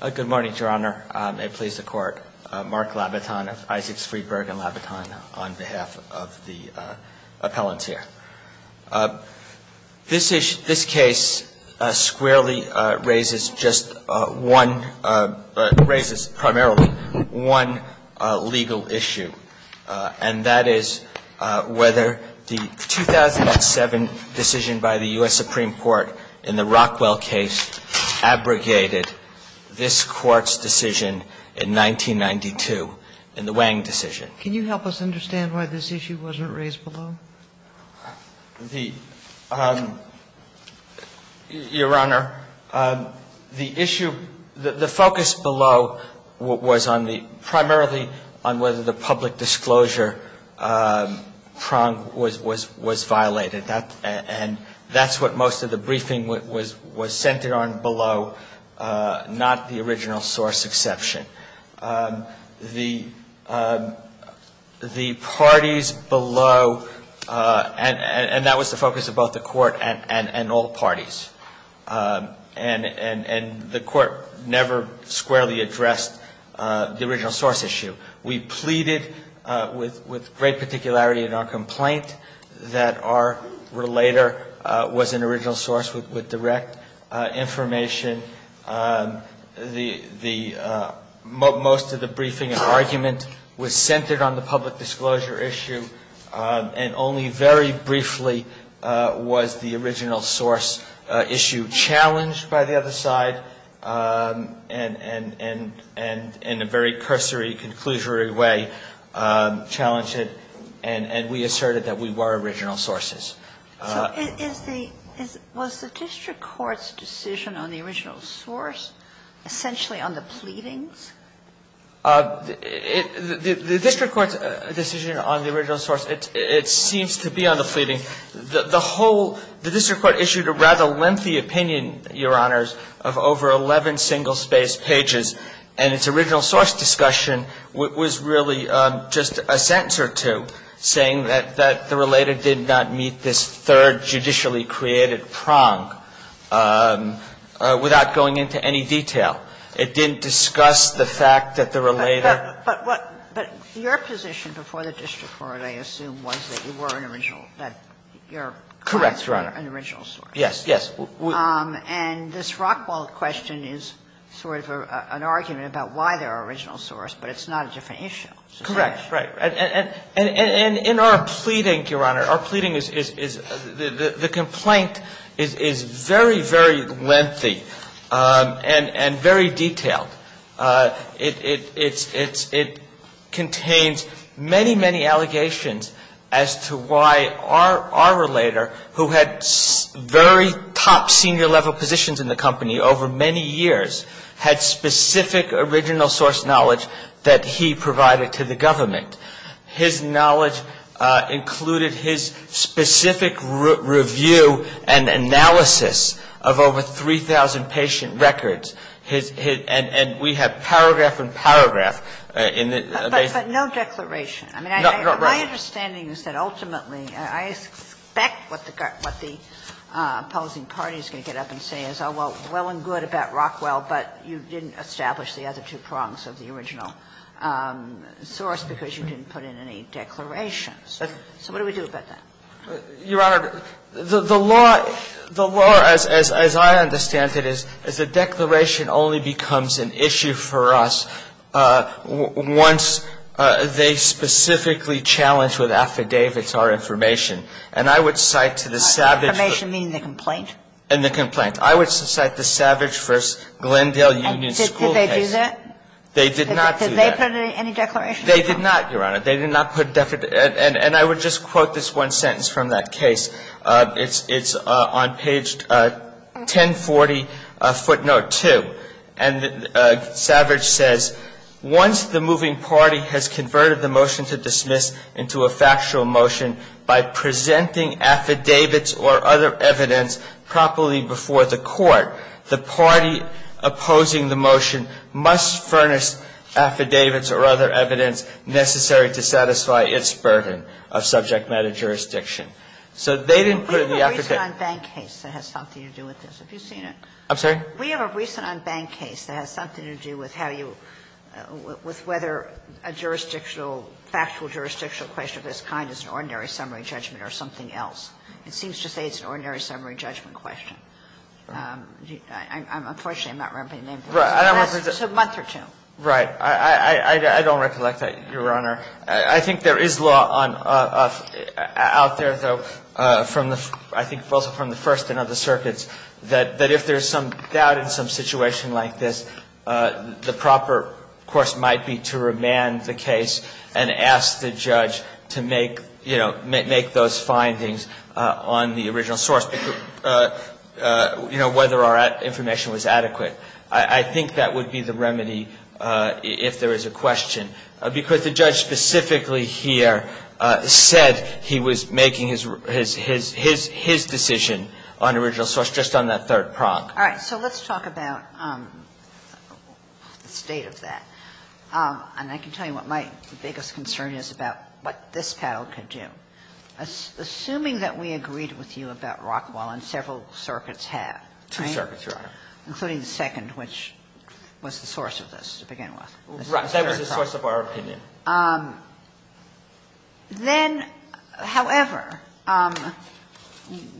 Good morning, Your Honor. May it please the Court. Mark Labaton of Isaacs, Freedberg & Labaton on behalf of the appellant here. This case squarely raises just one, raises primarily one legal issue, and that is whether the 2007 decision by the U.S. Supreme Court in the Rockwell case abrogated this Court's decision in 1992, in the Wang decision. Can you help us understand why this issue wasn't raised below? The, Your Honor, the issue, the focus below was on the, primarily on whether the public disclosure prong was violated. And that's what most of the briefing was centered on below, not the original source exception. The parties below, and that was the focus of both the Court and all parties, and the Court never squarely addressed the original source issue. We pleaded with great particularity in our complaint that our relator was an original source with direct information. Most of the briefing and argument was centered on the public disclosure issue, and only very briefly was the original source issue challenged by the other side, and in a very cursory, conclusory way challenged it, and we asserted that we were original sources. So is the, was the district court's decision on the original source essentially on the pleadings? The district court's decision on the original source, it seems to be on the pleading. The whole, the district court issued a rather lengthy opinion, Your Honors, of over 11 single-space pages, and its original source discussion was really just a sentence or two saying that the relator did not meet this third judicially created prong without going into any detail. It didn't discuss the fact that the relator. But what, but your position before the district court, I assume, was that you were an original, that your clients were an original source. Correct, Your Honor. Yes, yes. And this Rockwell question is sort of an argument about why they're an original source, but it's not a different issue. Correct. Right. And in our pleading, Your Honor, our pleading is, the complaint is very, very lengthy and very detailed. It contains many, many allegations as to why our relator, who had very top senior-level positions in the company over many years, had specific original source knowledge that he provided to the government. His knowledge included his specific review and analysis of over 3,000 patient records. And we have paragraph and paragraph in the case. But no declaration. My understanding is that ultimately, I expect what the opposing party is going to get up and say is, oh, well, well and good about Rockwell, but you didn't establish the other two prongs of the original source because you didn't put in any declarations. So what do we do about that? Your Honor, the law, the law, as I understand it, is the declaration only becomes an issue for us once they specifically challenge with affidavits our information. And I would cite to the savage first. Affidavit, meaning the complaint? And the complaint. I would cite the savage first Glendale Union School case. And did they do that? They did not do that. Did they put in any declarations? They did not, Your Honor. They did not put, and I would just quote this one sentence from that case. It's on page 1040 footnote 2. And savage says, once the moving party has converted the motion to dismiss into a factual motion by presenting affidavits or other evidence properly before the court, the party opposing the motion must furnish affidavits or other evidence necessary to satisfy its burden of subject matter jurisdiction. So they didn't put in the affidavit. We have a recent unbanked case that has something to do with this. Have you seen it? I'm sorry? We have a recent unbanked case that has something to do with how you, with whether a jurisdictional, factual jurisdictional question of this kind is an ordinary summary judgment or something else. It seems to say it's an ordinary summary judgment question. Can I ask a question? I am not very familiar with the original document. I'm afraid I'm not going to remember the name. Unfortunately, I'm not remembering the name. Right. A month or two. Right. I don't recollect that, Your Honor. I think there is law out there though, I think also from the First and other circuits, that if there is some doubt in some situation like this, the proper course might be to remand the case and ask the judge to make, you know, make those findings on the original source, you know, whether our information was adequate. I think that would be the remedy if there is a question, because the judge specifically here said he was making his decision on original source just on that third prong. All right. So let's talk about the state of that. And I can tell you what my biggest concern is about what this panel could do. Assuming that we agreed with you about Rockwell, and several circuits have, right? Two circuits, Your Honor. Including the second, which was the source of this to begin with. Right. That was the source of our opinion. Then, however,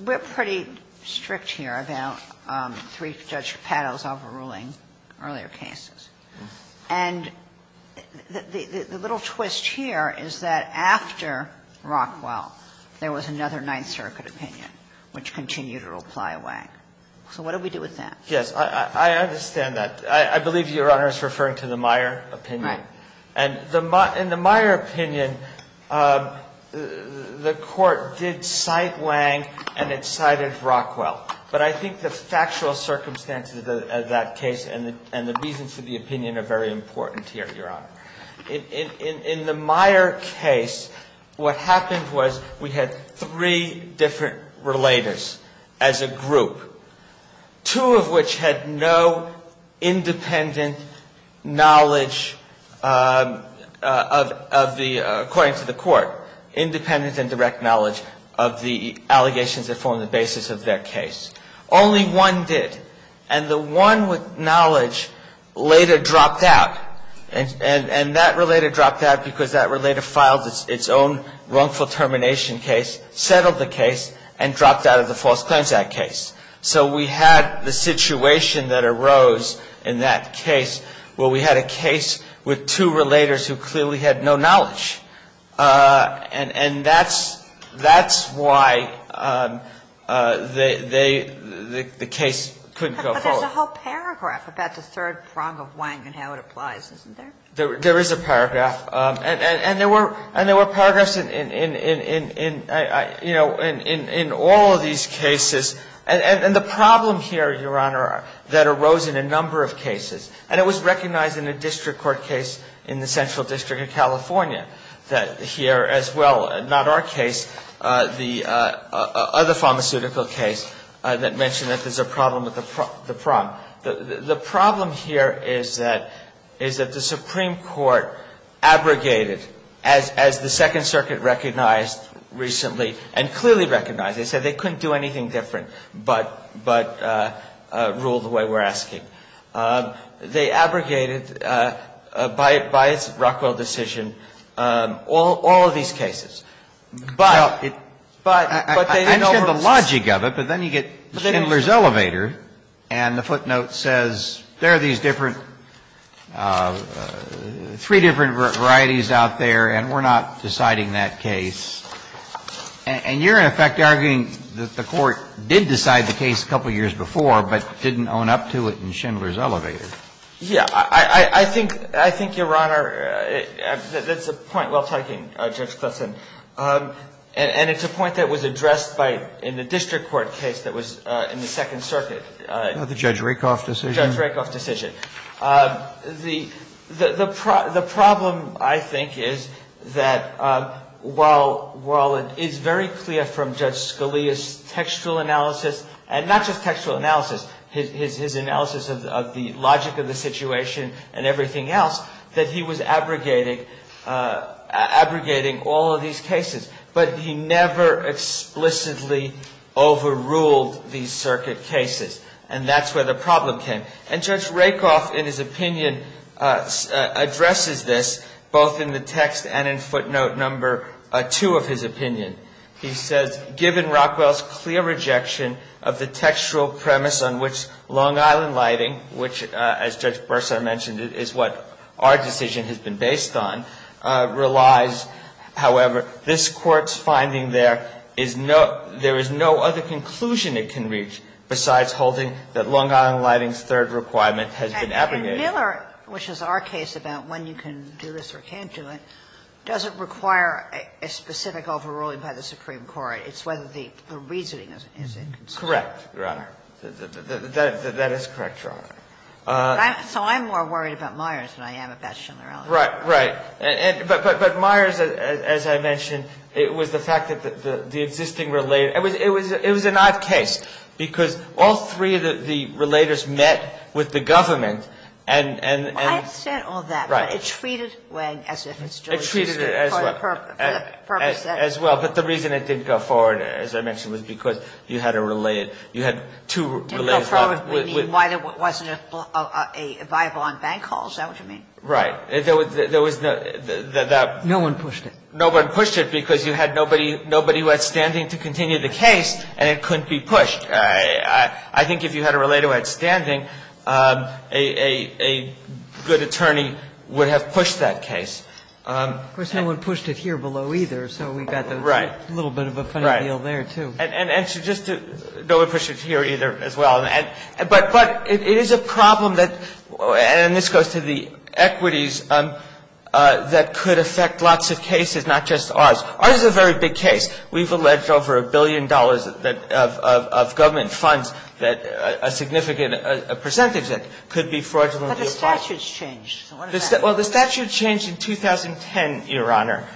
we're pretty strict here about three Judge Pato's overruling earlier cases. And the little twist here is that after Rockwell, there was another Ninth Circuit opinion, which continued to apply Wang. So what do we do with that? Yes. I understand that. I believe Your Honor is referring to the Meyer opinion. Right. And in the Meyer opinion, the Court did cite Wang and it cited Rockwell. But I think the factual circumstances of that case and the reasons for the opinion are very important here, Your Honor. In the Meyer case, what happened was we had three different relators as a group, two of which had no independent knowledge of the, according to the Court, independent and direct knowledge of the allegations that formed the basis of their case. Only one did. And the one with knowledge later dropped out. And that relator dropped out because that relator filed its own wrongful termination case, settled the case, and dropped out of the False Claims Act case. So we had the situation that arose in that case where we had a case with two relators who clearly had no knowledge. And that's why the case couldn't go forward. But there's a whole paragraph about the third prong of Wang and how it applies, isn't there? There is a paragraph. And there were paragraphs in all of these cases. And the problem here, Your Honor, that arose in a number of cases, and it was recognized in a district court case in the Central District of California that here as well, not our case, the other pharmaceutical case that mentioned that there's a problem with the prong. The problem here is that the Supreme Court abrogated, as the Second Circuit recognized recently and clearly recognized. They said they couldn't do anything different but rule the way we're asking. They abrogated, by its Rockwell decision, all of these cases. But they didn't overrule it. I mean, you get the logic of it, but then you get Schindler's Elevator and the footnote says there are these different, three different varieties out there and we're not deciding that case. And you're, in effect, arguing that the Court did decide the case a couple years before but didn't own up to it in Schindler's Elevator. Yeah. I think, Your Honor, that's a point well taken, Judge Clifson. And it's a point that was addressed in the district court case that was in the Second Circuit. The Judge Rakoff decision. The Judge Rakoff decision. The problem, I think, is that while it is very clear from Judge Scalia's textual analysis, and not just textual analysis, his analysis of the logic of the situation and everything else, that he was abrogating all of these cases. But he never explicitly overruled these circuit cases. And that's where the problem came. And Judge Rakoff, in his opinion, addresses this both in the text and in footnote number two of his opinion. He says, Given Rockwell's clear rejection of the textual premise on which Long Island Lighting, which, as Judge Bursar mentioned, is what our decision has been based on, relies, however, this Court's finding there is no other conclusion it can reach besides holding that Long Island Lighting's third requirement has been abrogated. Sotomayor, which is our case about when you can do this or can't do it, doesn't require a specific overruling by the Supreme Court. It's whether the reasoning is in concern. Correct, Your Honor. That is correct, Your Honor. So I'm more worried about Myers than I am about Schindler-Ellis. Right. Right. But Myers, as I mentioned, it was the fact that the existing relater – it was an odd case because all three of the relators met with the government and – I understand all that. Right. But it treated Wang as if it's Joe Schindler-Ellis. It treated it as well. For the purpose that – As well. But the reason it didn't go forward, as I mentioned, was because you had a related – you had two related – Didn't go forward, meaning why there wasn't a viable on bank hauls? Is that what you mean? Right. There was no – No one pushed it. No one pushed it because you had nobody who had standing to continue the case, and it couldn't be pushed. I think if you had a relater who had standing, a good attorney would have pushed that case. Of course, no one pushed it here below either, so we've got a little bit of a funny deal there, too. Right. And so just to – no one pushed it here either as well. But it is a problem that – and this goes to the equities that could affect lots of cases, not just ours. Ours is a very big case. We've alleged over a billion dollars of government funds that – a significant percentage that could be fraudulently applied. But the statute's changed. Well, the statute changed in 2010, Your Honor,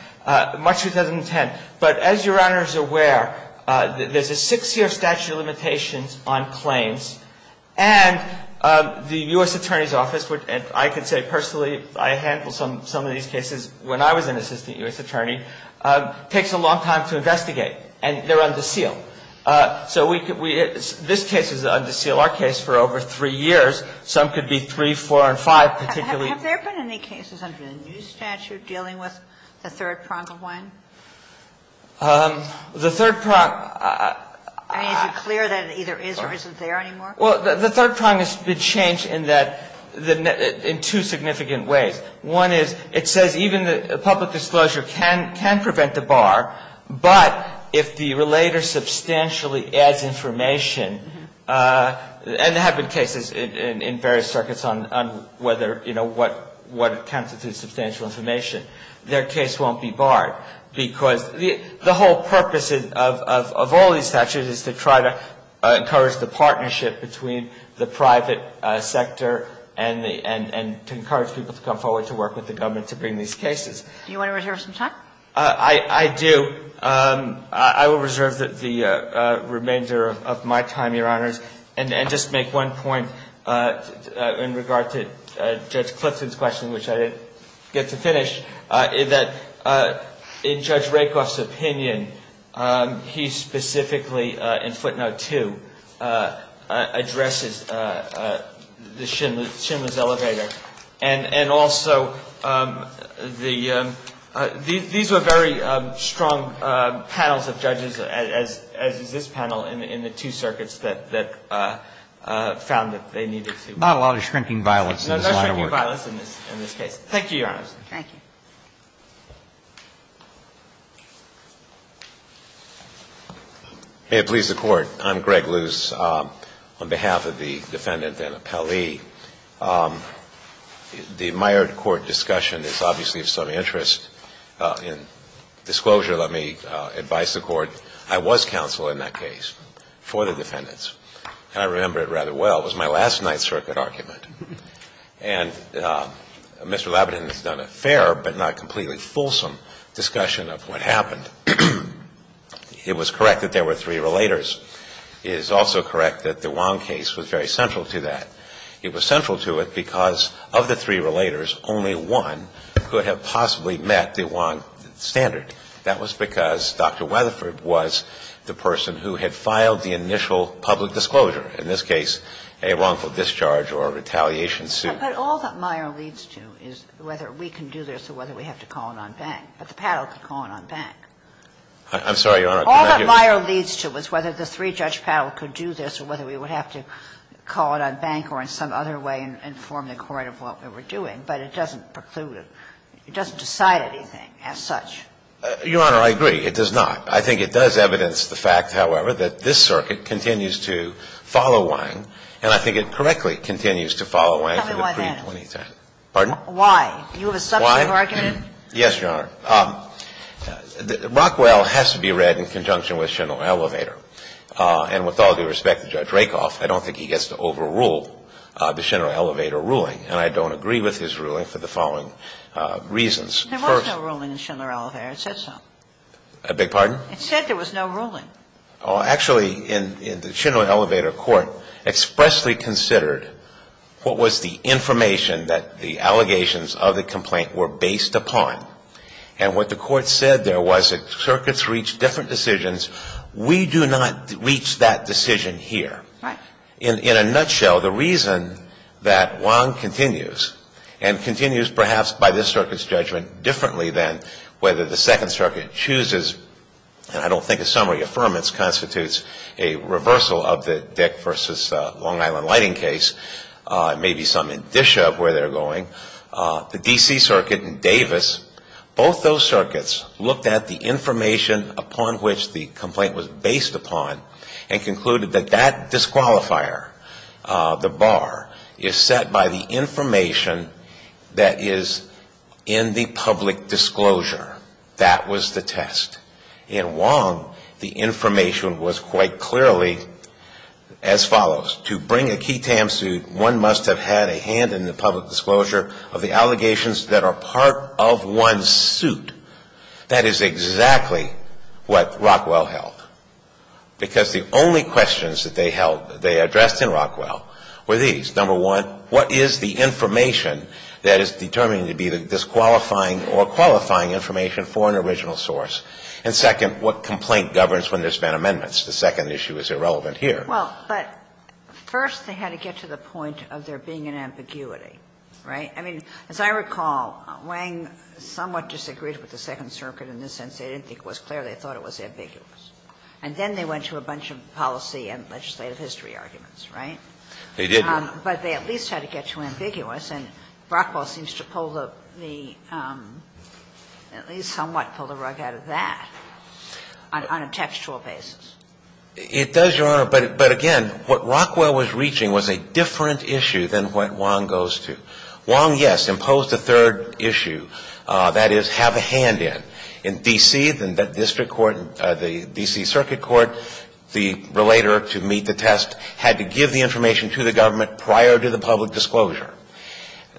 March 2010. But as Your Honor is aware, there's a six-year statute of limitations on claims, and the U.S. Attorney's Office would – and I could say personally I handled some of these cases when I was an assistant U.S. attorney – takes a long time to investigate, and they're under seal. So we – this case is under seal, our case, for over three years. Some could be three, four, and five, particularly – Have there been any cases under the new statute dealing with the third prong of one? The third prong – I mean, is it clear that it either is or isn't there anymore? Well, the third prong has been changed in that – in two significant ways. One is it says even public disclosure can prevent a bar, but if the relator substantially adds information – and there have been cases in various circuits on whether – you know, what constitutes substantial information – their case won't be barred. Because the whole purpose of all these statutes is to try to encourage the partnership between the private sector and the – and to encourage people to come forward to work with the government to bring these cases. Do you want to reserve some time? I do. I will reserve the remainder of my time, Your Honors. And just make one point in regard to Judge Clifton's question, which I didn't get to finish, that in Judge Rakoff's opinion, he specifically, in footnote 2, addresses the Schindler's elevator. And also, the – these were very strong panels of judges, as is this panel in the two circuits that found that they needed to. Not a lot of shrinking violence in this line of work. No shrinking violence in this case. Thank you, Your Honors. Thank you. May it please the Court. I'm Greg Luce. On behalf of the defendant, then, Appellee, the Mayer court discussion is obviously of some interest. In disclosure, let me advise the Court. I was counsel in that case for the defendants, and I remember it rather well. It was my last Ninth Circuit argument. And Mr. Lebedin has done a fair but not completely fulsome discussion of what happened. It was correct that there were three relators. It is also correct that the Wong case was very central to that. It was central to it because of the three relators, only one could have possibly met the Wong standard. That was because Dr. Weatherford was the person who had filed the initial public disclosure, in this case a wrongful discharge or retaliation suit. But all that Mayer leads to is whether we can do this or whether we have to call it on bank. But the Paddell could call it on bank. I'm sorry, Your Honor. All that Mayer leads to is whether the three-judge Paddell could do this or whether we would have to call it on bank or in some other way inform the Court of what we were doing. But it doesn't preclude it. It doesn't decide anything as such. Your Honor, I agree. It does not. I think it does evidence the fact, however, that this circuit continues to follow Wong, and I think it correctly continues to follow Wong for the pre-2010. Tell me why that is. Pardon? Why? Do you have a substantive argument? Why? Yes, Your Honor. Rockwell has to be read in conjunction with Schindler Elevator. And with all due respect to Judge Rakoff, I don't think he gets to overrule the Schindler Elevator ruling. And I don't agree with his ruling for the following reasons. There was no ruling in Schindler Elevator. It said so. A big pardon? It said there was no ruling. Actually, in the Schindler Elevator Court expressly considered what was the information that the allegations of the complaint were based upon. And what the Court said there was that circuits reach different decisions. We do not reach that decision here. Right. In a nutshell, the reason that Wong continues, and continues perhaps by this circuit's differently than whether the Second Circuit chooses, and I don't think a summary affirmance constitutes a reversal of the Dick v. Long Island Lighting case, it may be some indicia of where they're going. The D.C. Circuit and Davis, both those circuits looked at the information upon which the complaint was based upon and concluded that that disqualifier, the bar, is set by the information that is in the public disclosure. That was the test. In Wong, the information was quite clearly as follows. To bring a key TAM suit, one must have had a hand in the public disclosure of the allegations that are part of one's suit. That is exactly what Rockwell held. Because the only questions that they held, they addressed in Rockwell, were these. Number one, what is the information that is determined to be the disqualifying or qualifying information for an original source? And second, what complaint governs when there's been amendments? The second issue is irrelevant here. Well, but first they had to get to the point of there being an ambiguity. Right? I mean, as I recall, Wong somewhat disagreed with the Second Circuit in the sense they didn't think it was clear, they thought it was ambiguous. And then they went to a bunch of policy and legislative history arguments. They did, Your Honor. But they at least had to get to ambiguous, and Rockwell seems to pull the at least somewhat pull the rug out of that on a textual basis. It does, Your Honor. But again, what Rockwell was reaching was a different issue than what Wong goes to. Wong, yes, imposed a third issue. That is, have a hand in. In D.C., the district court, the D.C. Circuit Court, the relator to meet the test had to give the information to the government prior to the public disclosure.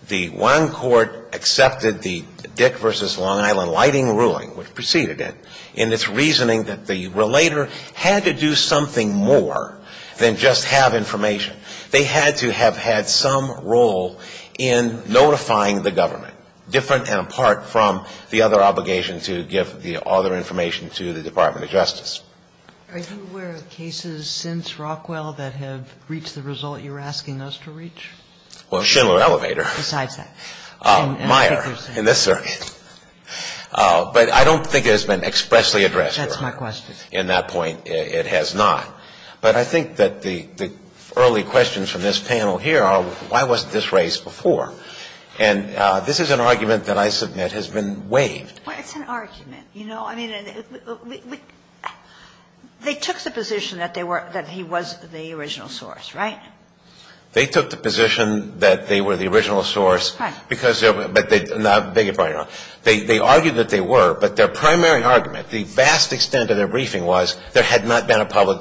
The Wong Court accepted the Dick v. Long Island lighting ruling, which proceeded it, in its reasoning that the relator had to do something more than just have information. They had to have had some role in notifying the government. So I think it's a little bit different and apart from the other obligation to give the other information to the Department of Justice. Are you aware of cases since Rockwell that have reached the result you're asking those to reach? Well, Schindler Elevator. Besides that. Meyer in this circuit. But I don't think it has been expressly addressed, Your Honor. That's my question. In that point, it has not. But I think that the early questions from this panel here are, why wasn't this raised before? And this is an argument that I submit has been waived. Well, it's an argument, you know. I mean, they took the position that they were, that he was the original source, right? They took the position that they were the original source. Right. Because, but they, no, I beg your pardon, Your Honor. They argued that they were, but their primary argument, the vast extent of their That was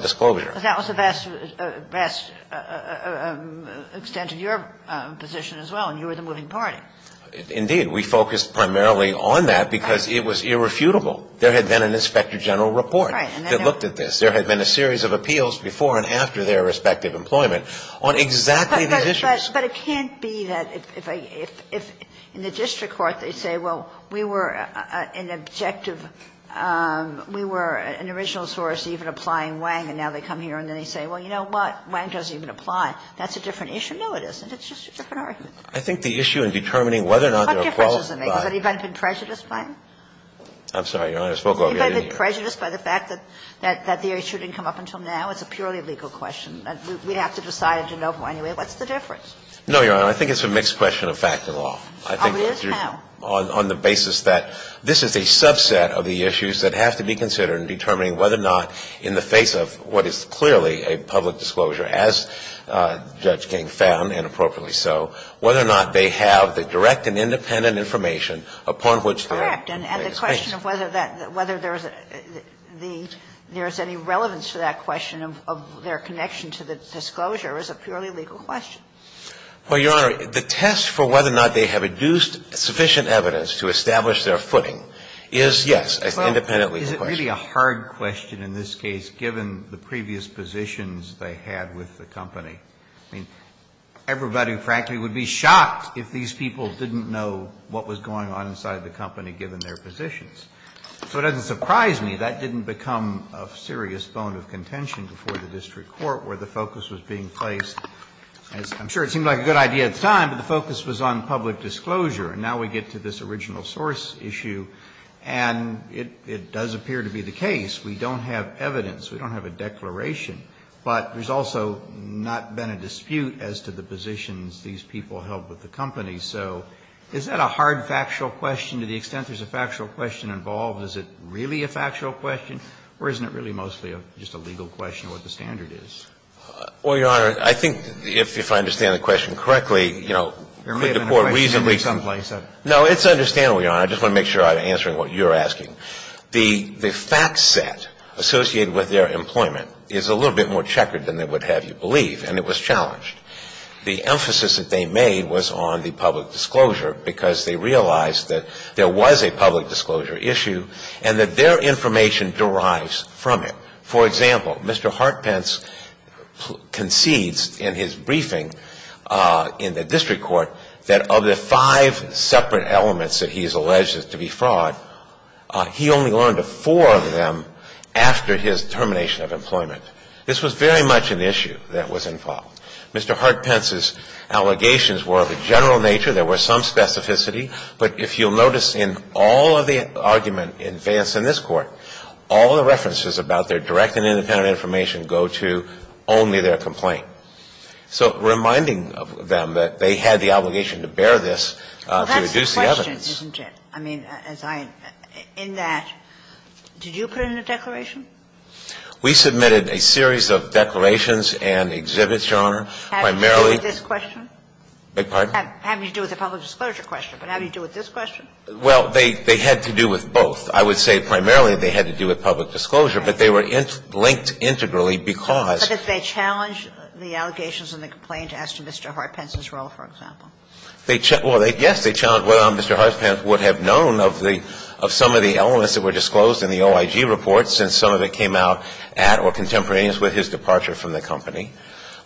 the vast extent of your position as well, and you were the moving party. Indeed. We focused primarily on that because it was irrefutable. There had been an Inspector General report that looked at this. There had been a series of appeals before and after their respective employment on exactly these issues. But it can't be that if I, if in the district court they say, well, we were an objective, we were an original source even applying Wang, and now they come here and they say, well, you know what? Wang doesn't even apply. That's a different issue. No, it isn't. It's just a different argument. I think the issue in determining whether or not there are qualifications What difference does it make? Has anybody been prejudiced by him? I'm sorry, Your Honor. I spoke over your ear. Has anybody been prejudiced by the fact that the issue didn't come up until now? It's a purely legal question. We'd have to decide in Genova anyway. What's the difference? No, Your Honor. I think it's a mixed question of fact and law. Oh, it is? Well, Your Honor, I think it's a mixed question of fact and law on the basis that this is a subset of the issues that have to be considered in determining whether or not in the face of what is clearly a public disclosure, as Judge King found, and appropriately so, whether or not they have the direct and independent information upon which they're placed. Correct. And the question of whether that, whether there's the, there's any relevance to that question of their connection to the disclosure is a purely legal question. Well, Your Honor, the test for whether or not they have adduced sufficient evidence to establish their footing is, yes, independently the question. Well, is it really a hard question in this case, given the previous positions they had with the company? I mean, everybody, frankly, would be shocked if these people didn't know what was going on inside the company, given their positions. So it doesn't surprise me that didn't become a serious bone of contention before the district court, where the focus was being placed, as I'm sure it seemed like a good idea at the time, but the focus was on public disclosure. And now we get to this original source issue, and it does appear to be the case. We don't have evidence. We don't have a declaration. But there's also not been a dispute as to the positions these people held with the company. So is that a hard factual question? To the extent there's a factual question involved, is it really a factual question, or isn't it really mostly just a legal question of what the standard is? Well, Your Honor, I think if I understand the question correctly, you know, could the Court reasonably say? There may have been a question in some place. No, it's understandable, Your Honor. I just want to make sure I'm answering what you're asking. The fact set associated with their employment is a little bit more checkered than they would have you believe, and it was challenged. The emphasis that they made was on the public disclosure because they realized that there was a public disclosure issue and that their information derives from it. For example, Mr. Hartpence concedes in his briefing in the district court that of the five separate elements that he has alleged to be fraud, he only learned of four of them after his termination of employment. This was very much an issue that was involved. Mr. Hartpence's allegations were of a general nature. There were some specificity. But if you'll notice in all of the argument in advance in this Court, all the references about their direct and independent information go to only their complaint. So reminding them that they had the obligation to bear this to reduce the evidence. Well, that's the question, isn't it? I mean, as I – in that, did you put in a declaration? We submitted a series of declarations and exhibits, Your Honor. Primarily – How did you do with this question? Pardon? How did you do with the public disclosure question? But how did you do with this question? Well, they had to do with both. I would say primarily they had to do with public disclosure, but they were linked integrally because – But did they challenge the allegations in the complaint as to Mr. Hartpence's role, for example? They – well, yes, they challenged whether Mr. Hartpence would have known of the of some of the elements that were disclosed in the OIG report since some of it came out at or contemporaneous with his departure from the company.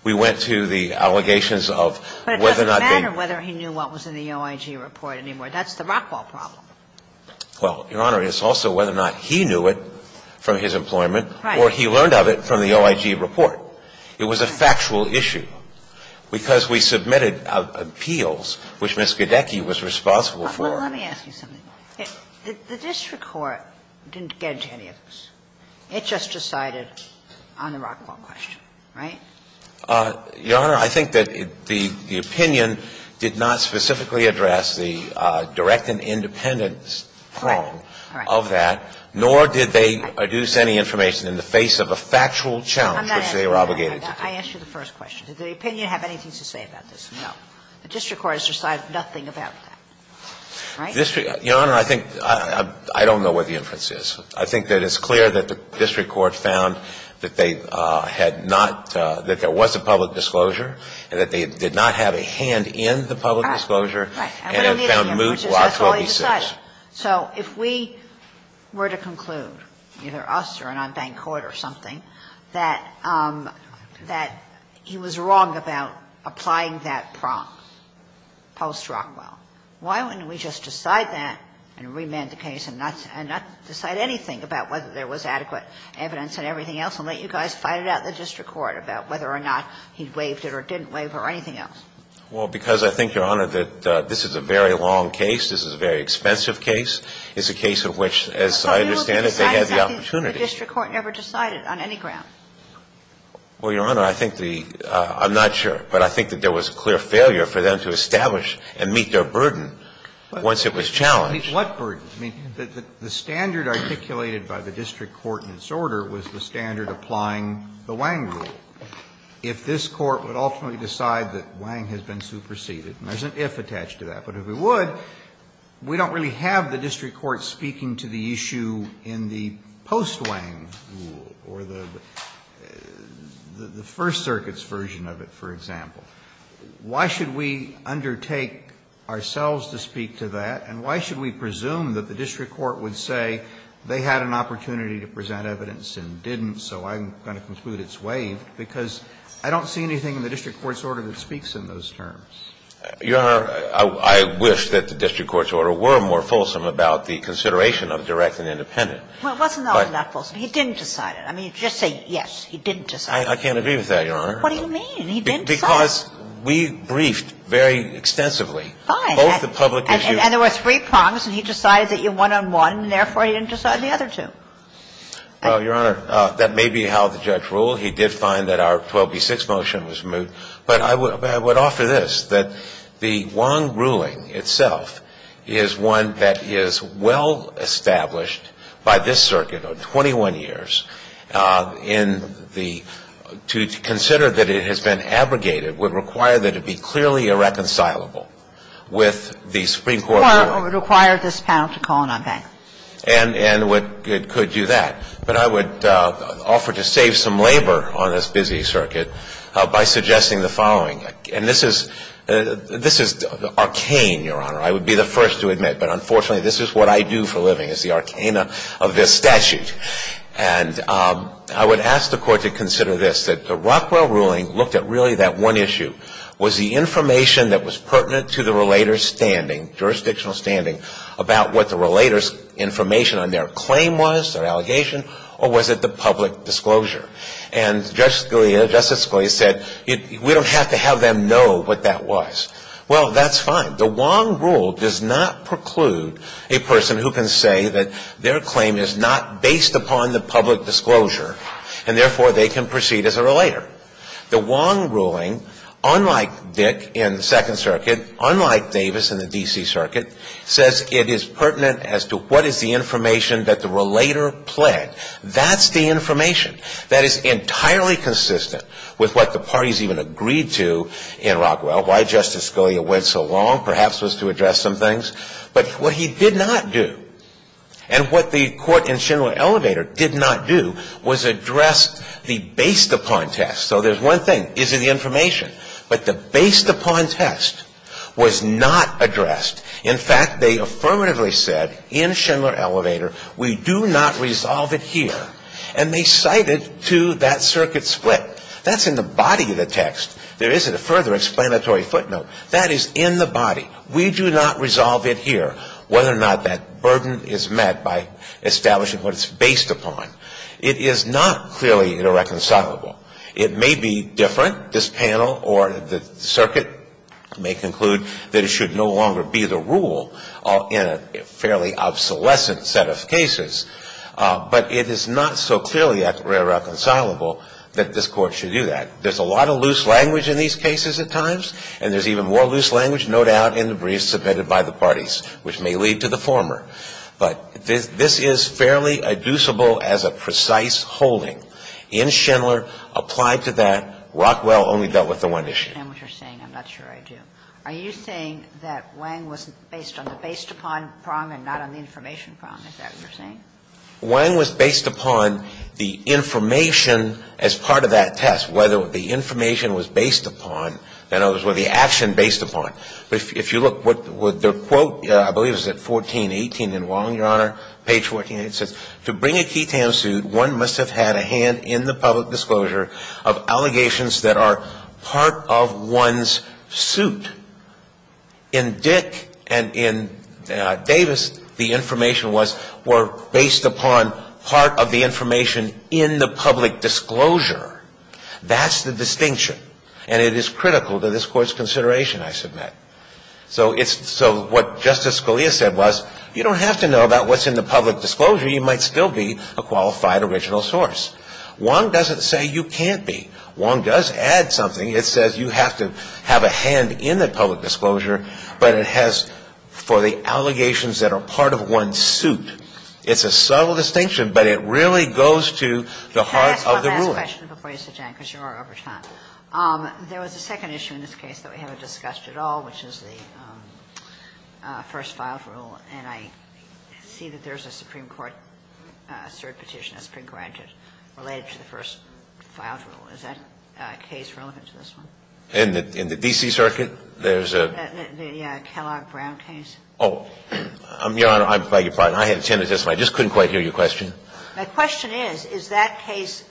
We went to the allegations of whether or not they – But it doesn't matter whether he knew what was in the OIG report anymore. That's the rockball problem. Well, Your Honor, it's also whether or not he knew it from his employment. Right. Or he learned of it from the OIG report. It was a factual issue. Because we submitted appeals, which Ms. Gidecki was responsible for – Well, let me ask you something. The district court didn't get into any of this. It just decided on the rockball question, right? Your Honor, I think that the opinion did not specifically address the direct and independent claim of that. Correct. All right. Nor did they deduce any information in the face of a factual challenge, which they were obligated to do. I'm not asking that. I asked you the first question. Did the opinion have anything to say about this? No. The district court has decided nothing about that. Right? Your Honor, I think – I don't know what the inference is. I think that it's clear that the district court found that they had not – that there was a public disclosure, and that they did not have a hand in the public disclosure, and it found moot while it was decided. So if we were to conclude, either us or an unbanked court or something, that he was wrong about applying that prompt post-Rockwell, why wouldn't we just decide that and remand the case and not decide anything about whether there was adequate evidence and everything else and let you guys fight it out in the district court about whether or not he waived it or didn't waive it or anything else? Well, because I think, Your Honor, that this is a very long case. This is a very expensive case. It's a case of which, as I understand it, they had the opportunity. But you would be deciding something the district court never decided on any ground. Well, Your Honor, I think the – I'm not sure, but I think that there was a clear failure for them to establish and meet their burden once it was challenged. What burden? I mean, the standard articulated by the district court in its order was the standard applying the Wang rule. If this Court would ultimately decide that Wang has been superseded, and there's an if attached to that, but if it would, we don't really have the district court speaking to the issue in the post-Wang rule or the First Circuit's version of it, for example. Why should we undertake ourselves to speak to that, and why should we presume that the district court would say they had an opportunity to present evidence and didn't, so I'm going to conclude it's waived, because I don't see anything in the district court's order that speaks in those terms. Your Honor, I wish that the district court's order were more fulsome about the consideration of direct and independent. Well, it wasn't all that fulsome. He didn't decide it. I mean, just say, yes, he didn't decide it. I can't agree with that, Your Honor. What do you mean? He didn't decide it. Because we briefed very extensively. Fine. Both the public issues. And there were three prompts, and he decided that you're one-on-one, and therefore he didn't decide the other two. Well, Your Honor, that may be how the judge ruled. He did find that our 12b-6 motion was removed. But I would offer this, that the Wong ruling itself is one that is well established by this circuit of 21 years in the to consider that it has been abrogated would require that it be clearly irreconcilable with the Supreme Court ruling. Or it would require this panel to call it on back. And it could do that. But I would offer to save some labor on this busy circuit by suggesting the following. And this is arcane, Your Honor. I would be the first to admit. But unfortunately, this is what I do for a living, is the arcana of this statute. And I would ask the Court to consider this, that the Rockwell ruling looked at really that one issue, was the information that was pertinent to the relator's standing, jurisdictional standing, about what the relator's information on their claim was, their allegation, or was it the public disclosure. And Justice Scalia said, we don't have to have them know what that was. Well, that's fine. The Wong rule does not preclude a person who can say that their claim is not based upon the public disclosure, and therefore, they can proceed as a relator. The Wong ruling, unlike Dick in the Second Circuit, unlike Davis in the D.C. Circuit, says it is pertinent as to what is the information that the relator pled. That's the information. That is entirely consistent with what the parties even agreed to in Rockwell, why Justice Scalia went so long. Perhaps it was to address some things. But what he did not do, and what the Court in Schindler-Elevator did not do, was address the based upon test. So there's one thing. Is it the information? But the based upon test was not addressed. In fact, they affirmatively said in Schindler-Elevator, we do not resolve it here. And they cited to that circuit split. That's in the body of the text. There isn't a further explanatory footnote. That is in the body. We do not resolve it here, whether or not that burden is met by establishing what it's based upon. It is not clearly irreconcilable. It may be different. This panel or the circuit may conclude that it should no longer be the rule in a fairly obsolescent set of cases. But it is not so clearly irreconcilable that this Court should do that. There's a lot of loose language in these cases at times, and there's even more loose language, no doubt, in the briefs submitted by the parties, which may lead to the former. But this is fairly inducible as a precise holding. In Schindler, applied to that, Rockwell only dealt with the one issue. I understand what you're saying. I'm not sure I do. Are you saying that Wang was based on the based-upon prong and not on the information prong? Is that what you're saying? Wang was based upon the information as part of that test, whether the information was based upon, and others, were the action based upon. But if you look what their quote, I believe it was at 1418 in Walling, Your Honor, page 14, it says, To bring a key tam suit, one must have had a hand in the public disclosure of allegations that are part of one's suit. In Dick and in Davis, the information was, were based upon part of the information in the public disclosure. That's the distinction. And it is critical to this Court's consideration, I submit. So it's, so what Justice Scalia said was, you don't have to know about what's in the public disclosure. You might still be a qualified original source. Wang doesn't say you can't be. Wang does add something. It says you have to have a hand in the public disclosure, but it has, for the allegations that are part of one's suit. It's a subtle distinction, but it really goes to the heart of the ruling. Can I ask one last question before you, Mr. Chang, because you are over time? There was a second issue in this case that we haven't discussed at all, which is the first-filed rule. And I see that there's a Supreme Court cert petition, a Supreme Court adjudication related to the first-filed rule. Is that case relevant to this one? In the D.C. circuit, there's a? The Kellogg-Brown case. Oh, Your Honor, I beg your pardon. I had a tendency, I just couldn't quite hear your question. My question is, is that case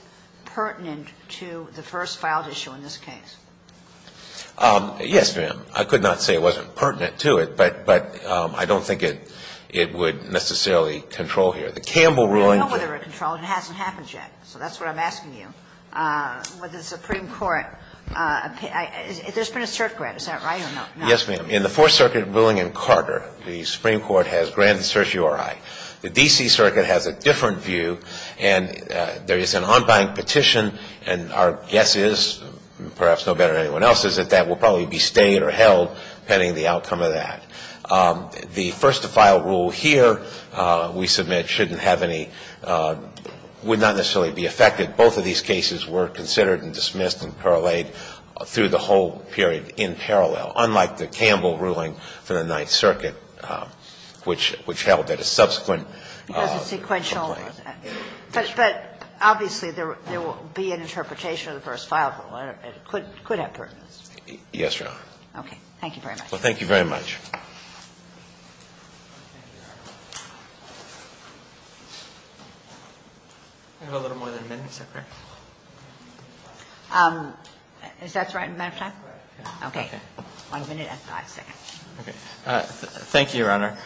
pertinent to the first-filed issue in this case? Yes, ma'am. I could not say it wasn't pertinent to it, but I don't think it would necessarily control here. The Campbell ruling? I don't know whether it controlled. It hasn't happened yet. So that's what I'm asking you. With the Supreme Court, there's been a cert grant. Is that right or not? Yes, ma'am. In the Fourth Circuit ruling in Carter, the Supreme Court has granted cert URI. The D.C. circuit has a different view, and there is an on-bank petition, and our guess is, perhaps no better than anyone else's, that that will probably be stayed or held depending on the outcome of that. The first-to-file rule here, we submit, shouldn't have any, would not necessarily be affected. Both of these cases were considered and dismissed and parlayed through the whole period in parallel, unlike the Campbell ruling for the Ninth Circuit, which held that a subsequent complaint. Because it's sequential. But obviously, there will be an interpretation of the first-file rule. It could have pertinence. Yes, Your Honor. Okay. Thank you very much. Well, thank you very much. I have a little more than a minute. Is that the right amount of time? Okay. One minute and five seconds. Okay. Thank you, Your Honor.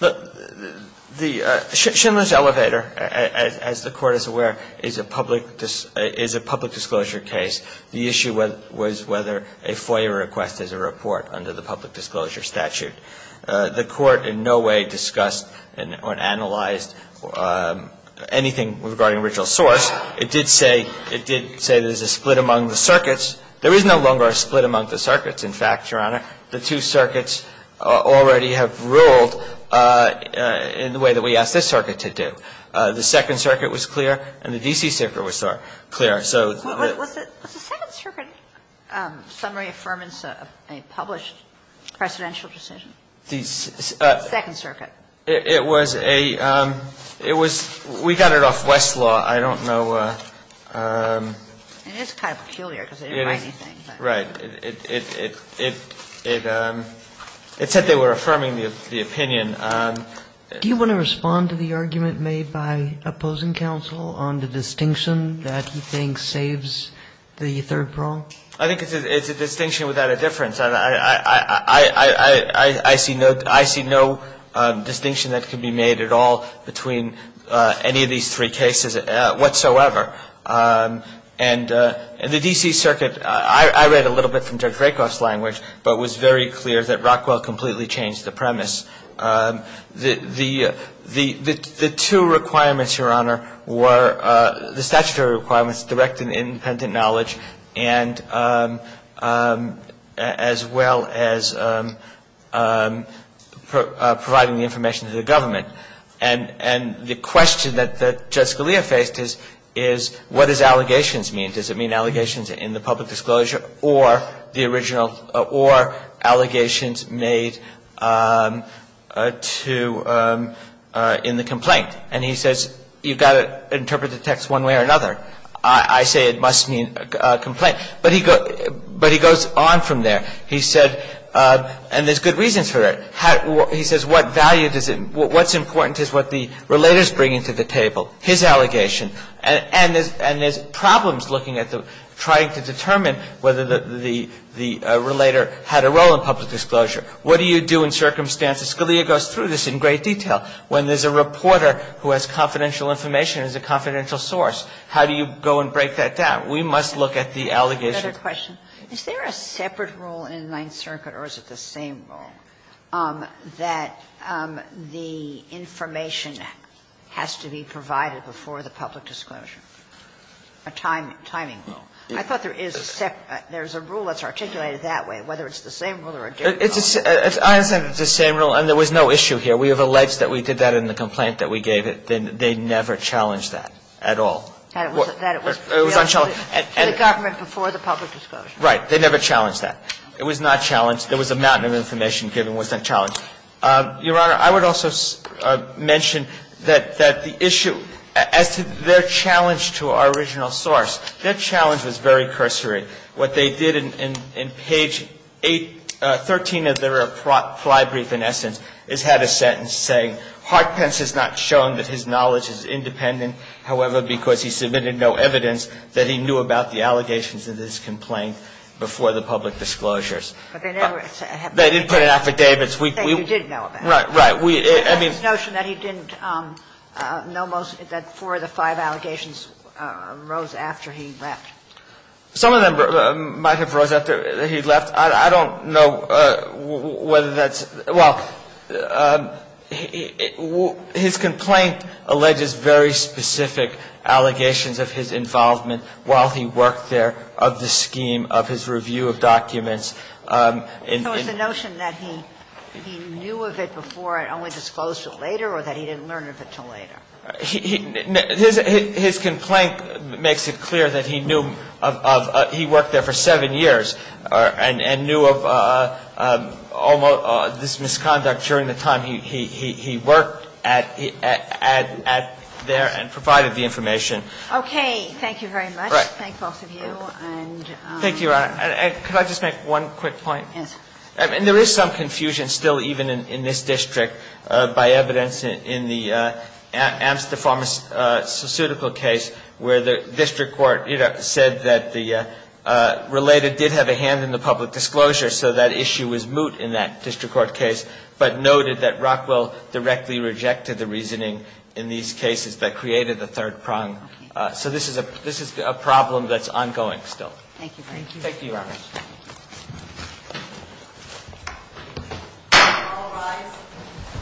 The Schindler's Elevator, as the Court is aware, is a public disclosure case. The issue was whether a FOIA request is a report under the public disclosure statute. The Court in no way discussed or analyzed anything regarding original source. It did say there's a split among the circuits. There is no longer a split among the circuits. In fact, Your Honor, the two circuits already have ruled in the way that we asked this circuit to do. The Second Circuit was clear and the D.C. Circuit was clear. So the ---- Was the Second Circuit summary affirmance a published presidential decision? The Second Circuit. It was a ---- it was ---- we got it off Westlaw. I don't know ---- It is kind of peculiar because it didn't write anything. Right. It said they were affirming the opinion. Do you want to respond to the argument made by opposing counsel on the distinction that he thinks saves the third prong? I think it's a distinction without a difference. I see no distinction that can be made at all between any of these three cases whatsoever. And the D.C. Circuit, I read a little bit from Judge Rakoff's language, but it was very clear that Rockwell completely changed the premise. The two requirements, Your Honor, were the statutory requirements, direct and independent knowledge, and as well as providing the information to the government. And the question that Judge Scalia faced is what does allegations mean? Does it mean allegations in the public disclosure or the original or allegations made to ---- in the complaint? And he says you've got to interpret the text one way or another. I say it must mean a complaint. But he goes on from there. He said and there's good reasons for it. He says what value does it ---- what's important is what the relator's bringing to the table, his allegation. And there's problems looking at the ---- trying to determine whether the relator had a role in public disclosure. What do you do in circumstances? Scalia goes through this in great detail. When there's a reporter who has confidential information as a confidential source, how do you go and break that down? We must look at the allegations. Sotomayor, I have another question. Is there a separate rule in the Ninth Circuit or is it the same rule that the information has to be provided before the public disclosure, a timing rule? I thought there is a separate ---- there's a rule that's articulated that way, whether it's the same rule or a different rule. I understand it's the same rule and there was no issue here. We have alleged that we did that in the complaint that we gave it. They never challenged that at all. It was unchallenged. The government before the public disclosure. Right. They never challenged that. It was not challenged. There was a mountain of information given that was unchallenged. Your Honor, I would also mention that the issue as to their challenge to our original source, their challenge was very cursory. What they did in page 8 ---- 13 of their fly brief, in essence, is had a sentence saying, But they never ---- They didn't put an affidavit. We ---- They did know about it. Right. Right. We, I mean ---- The notion that he didn't know most, that four of the five allegations rose after he left. Some of them might have rose after he left. His complaint alleges very specific allegations of his involvement while he worked there of the scheme of his review of documents. So it's the notion that he knew of it before and only disclosed it later or that he didn't learn of it until later? His complaint makes it clear that he knew of ---- he worked there for seven years and knew of almost this misconduct during the time he worked at there and provided the information. Okay. Thank you very much. Right. Thank both of you. And ---- Thank you, Your Honor. Could I just make one quick point? Yes. I mean, there is some confusion still even in this district by evidence in the Amster Court case where the district court said that the related did have a hand in the public disclosure, so that issue was moot in that district court case, but noted that Rockwell directly rejected the reasoning in these cases that created the third prong. Okay. So this is a problem that's ongoing still. Thank you very much. Thank you. Thank you, Your Honor. All rise.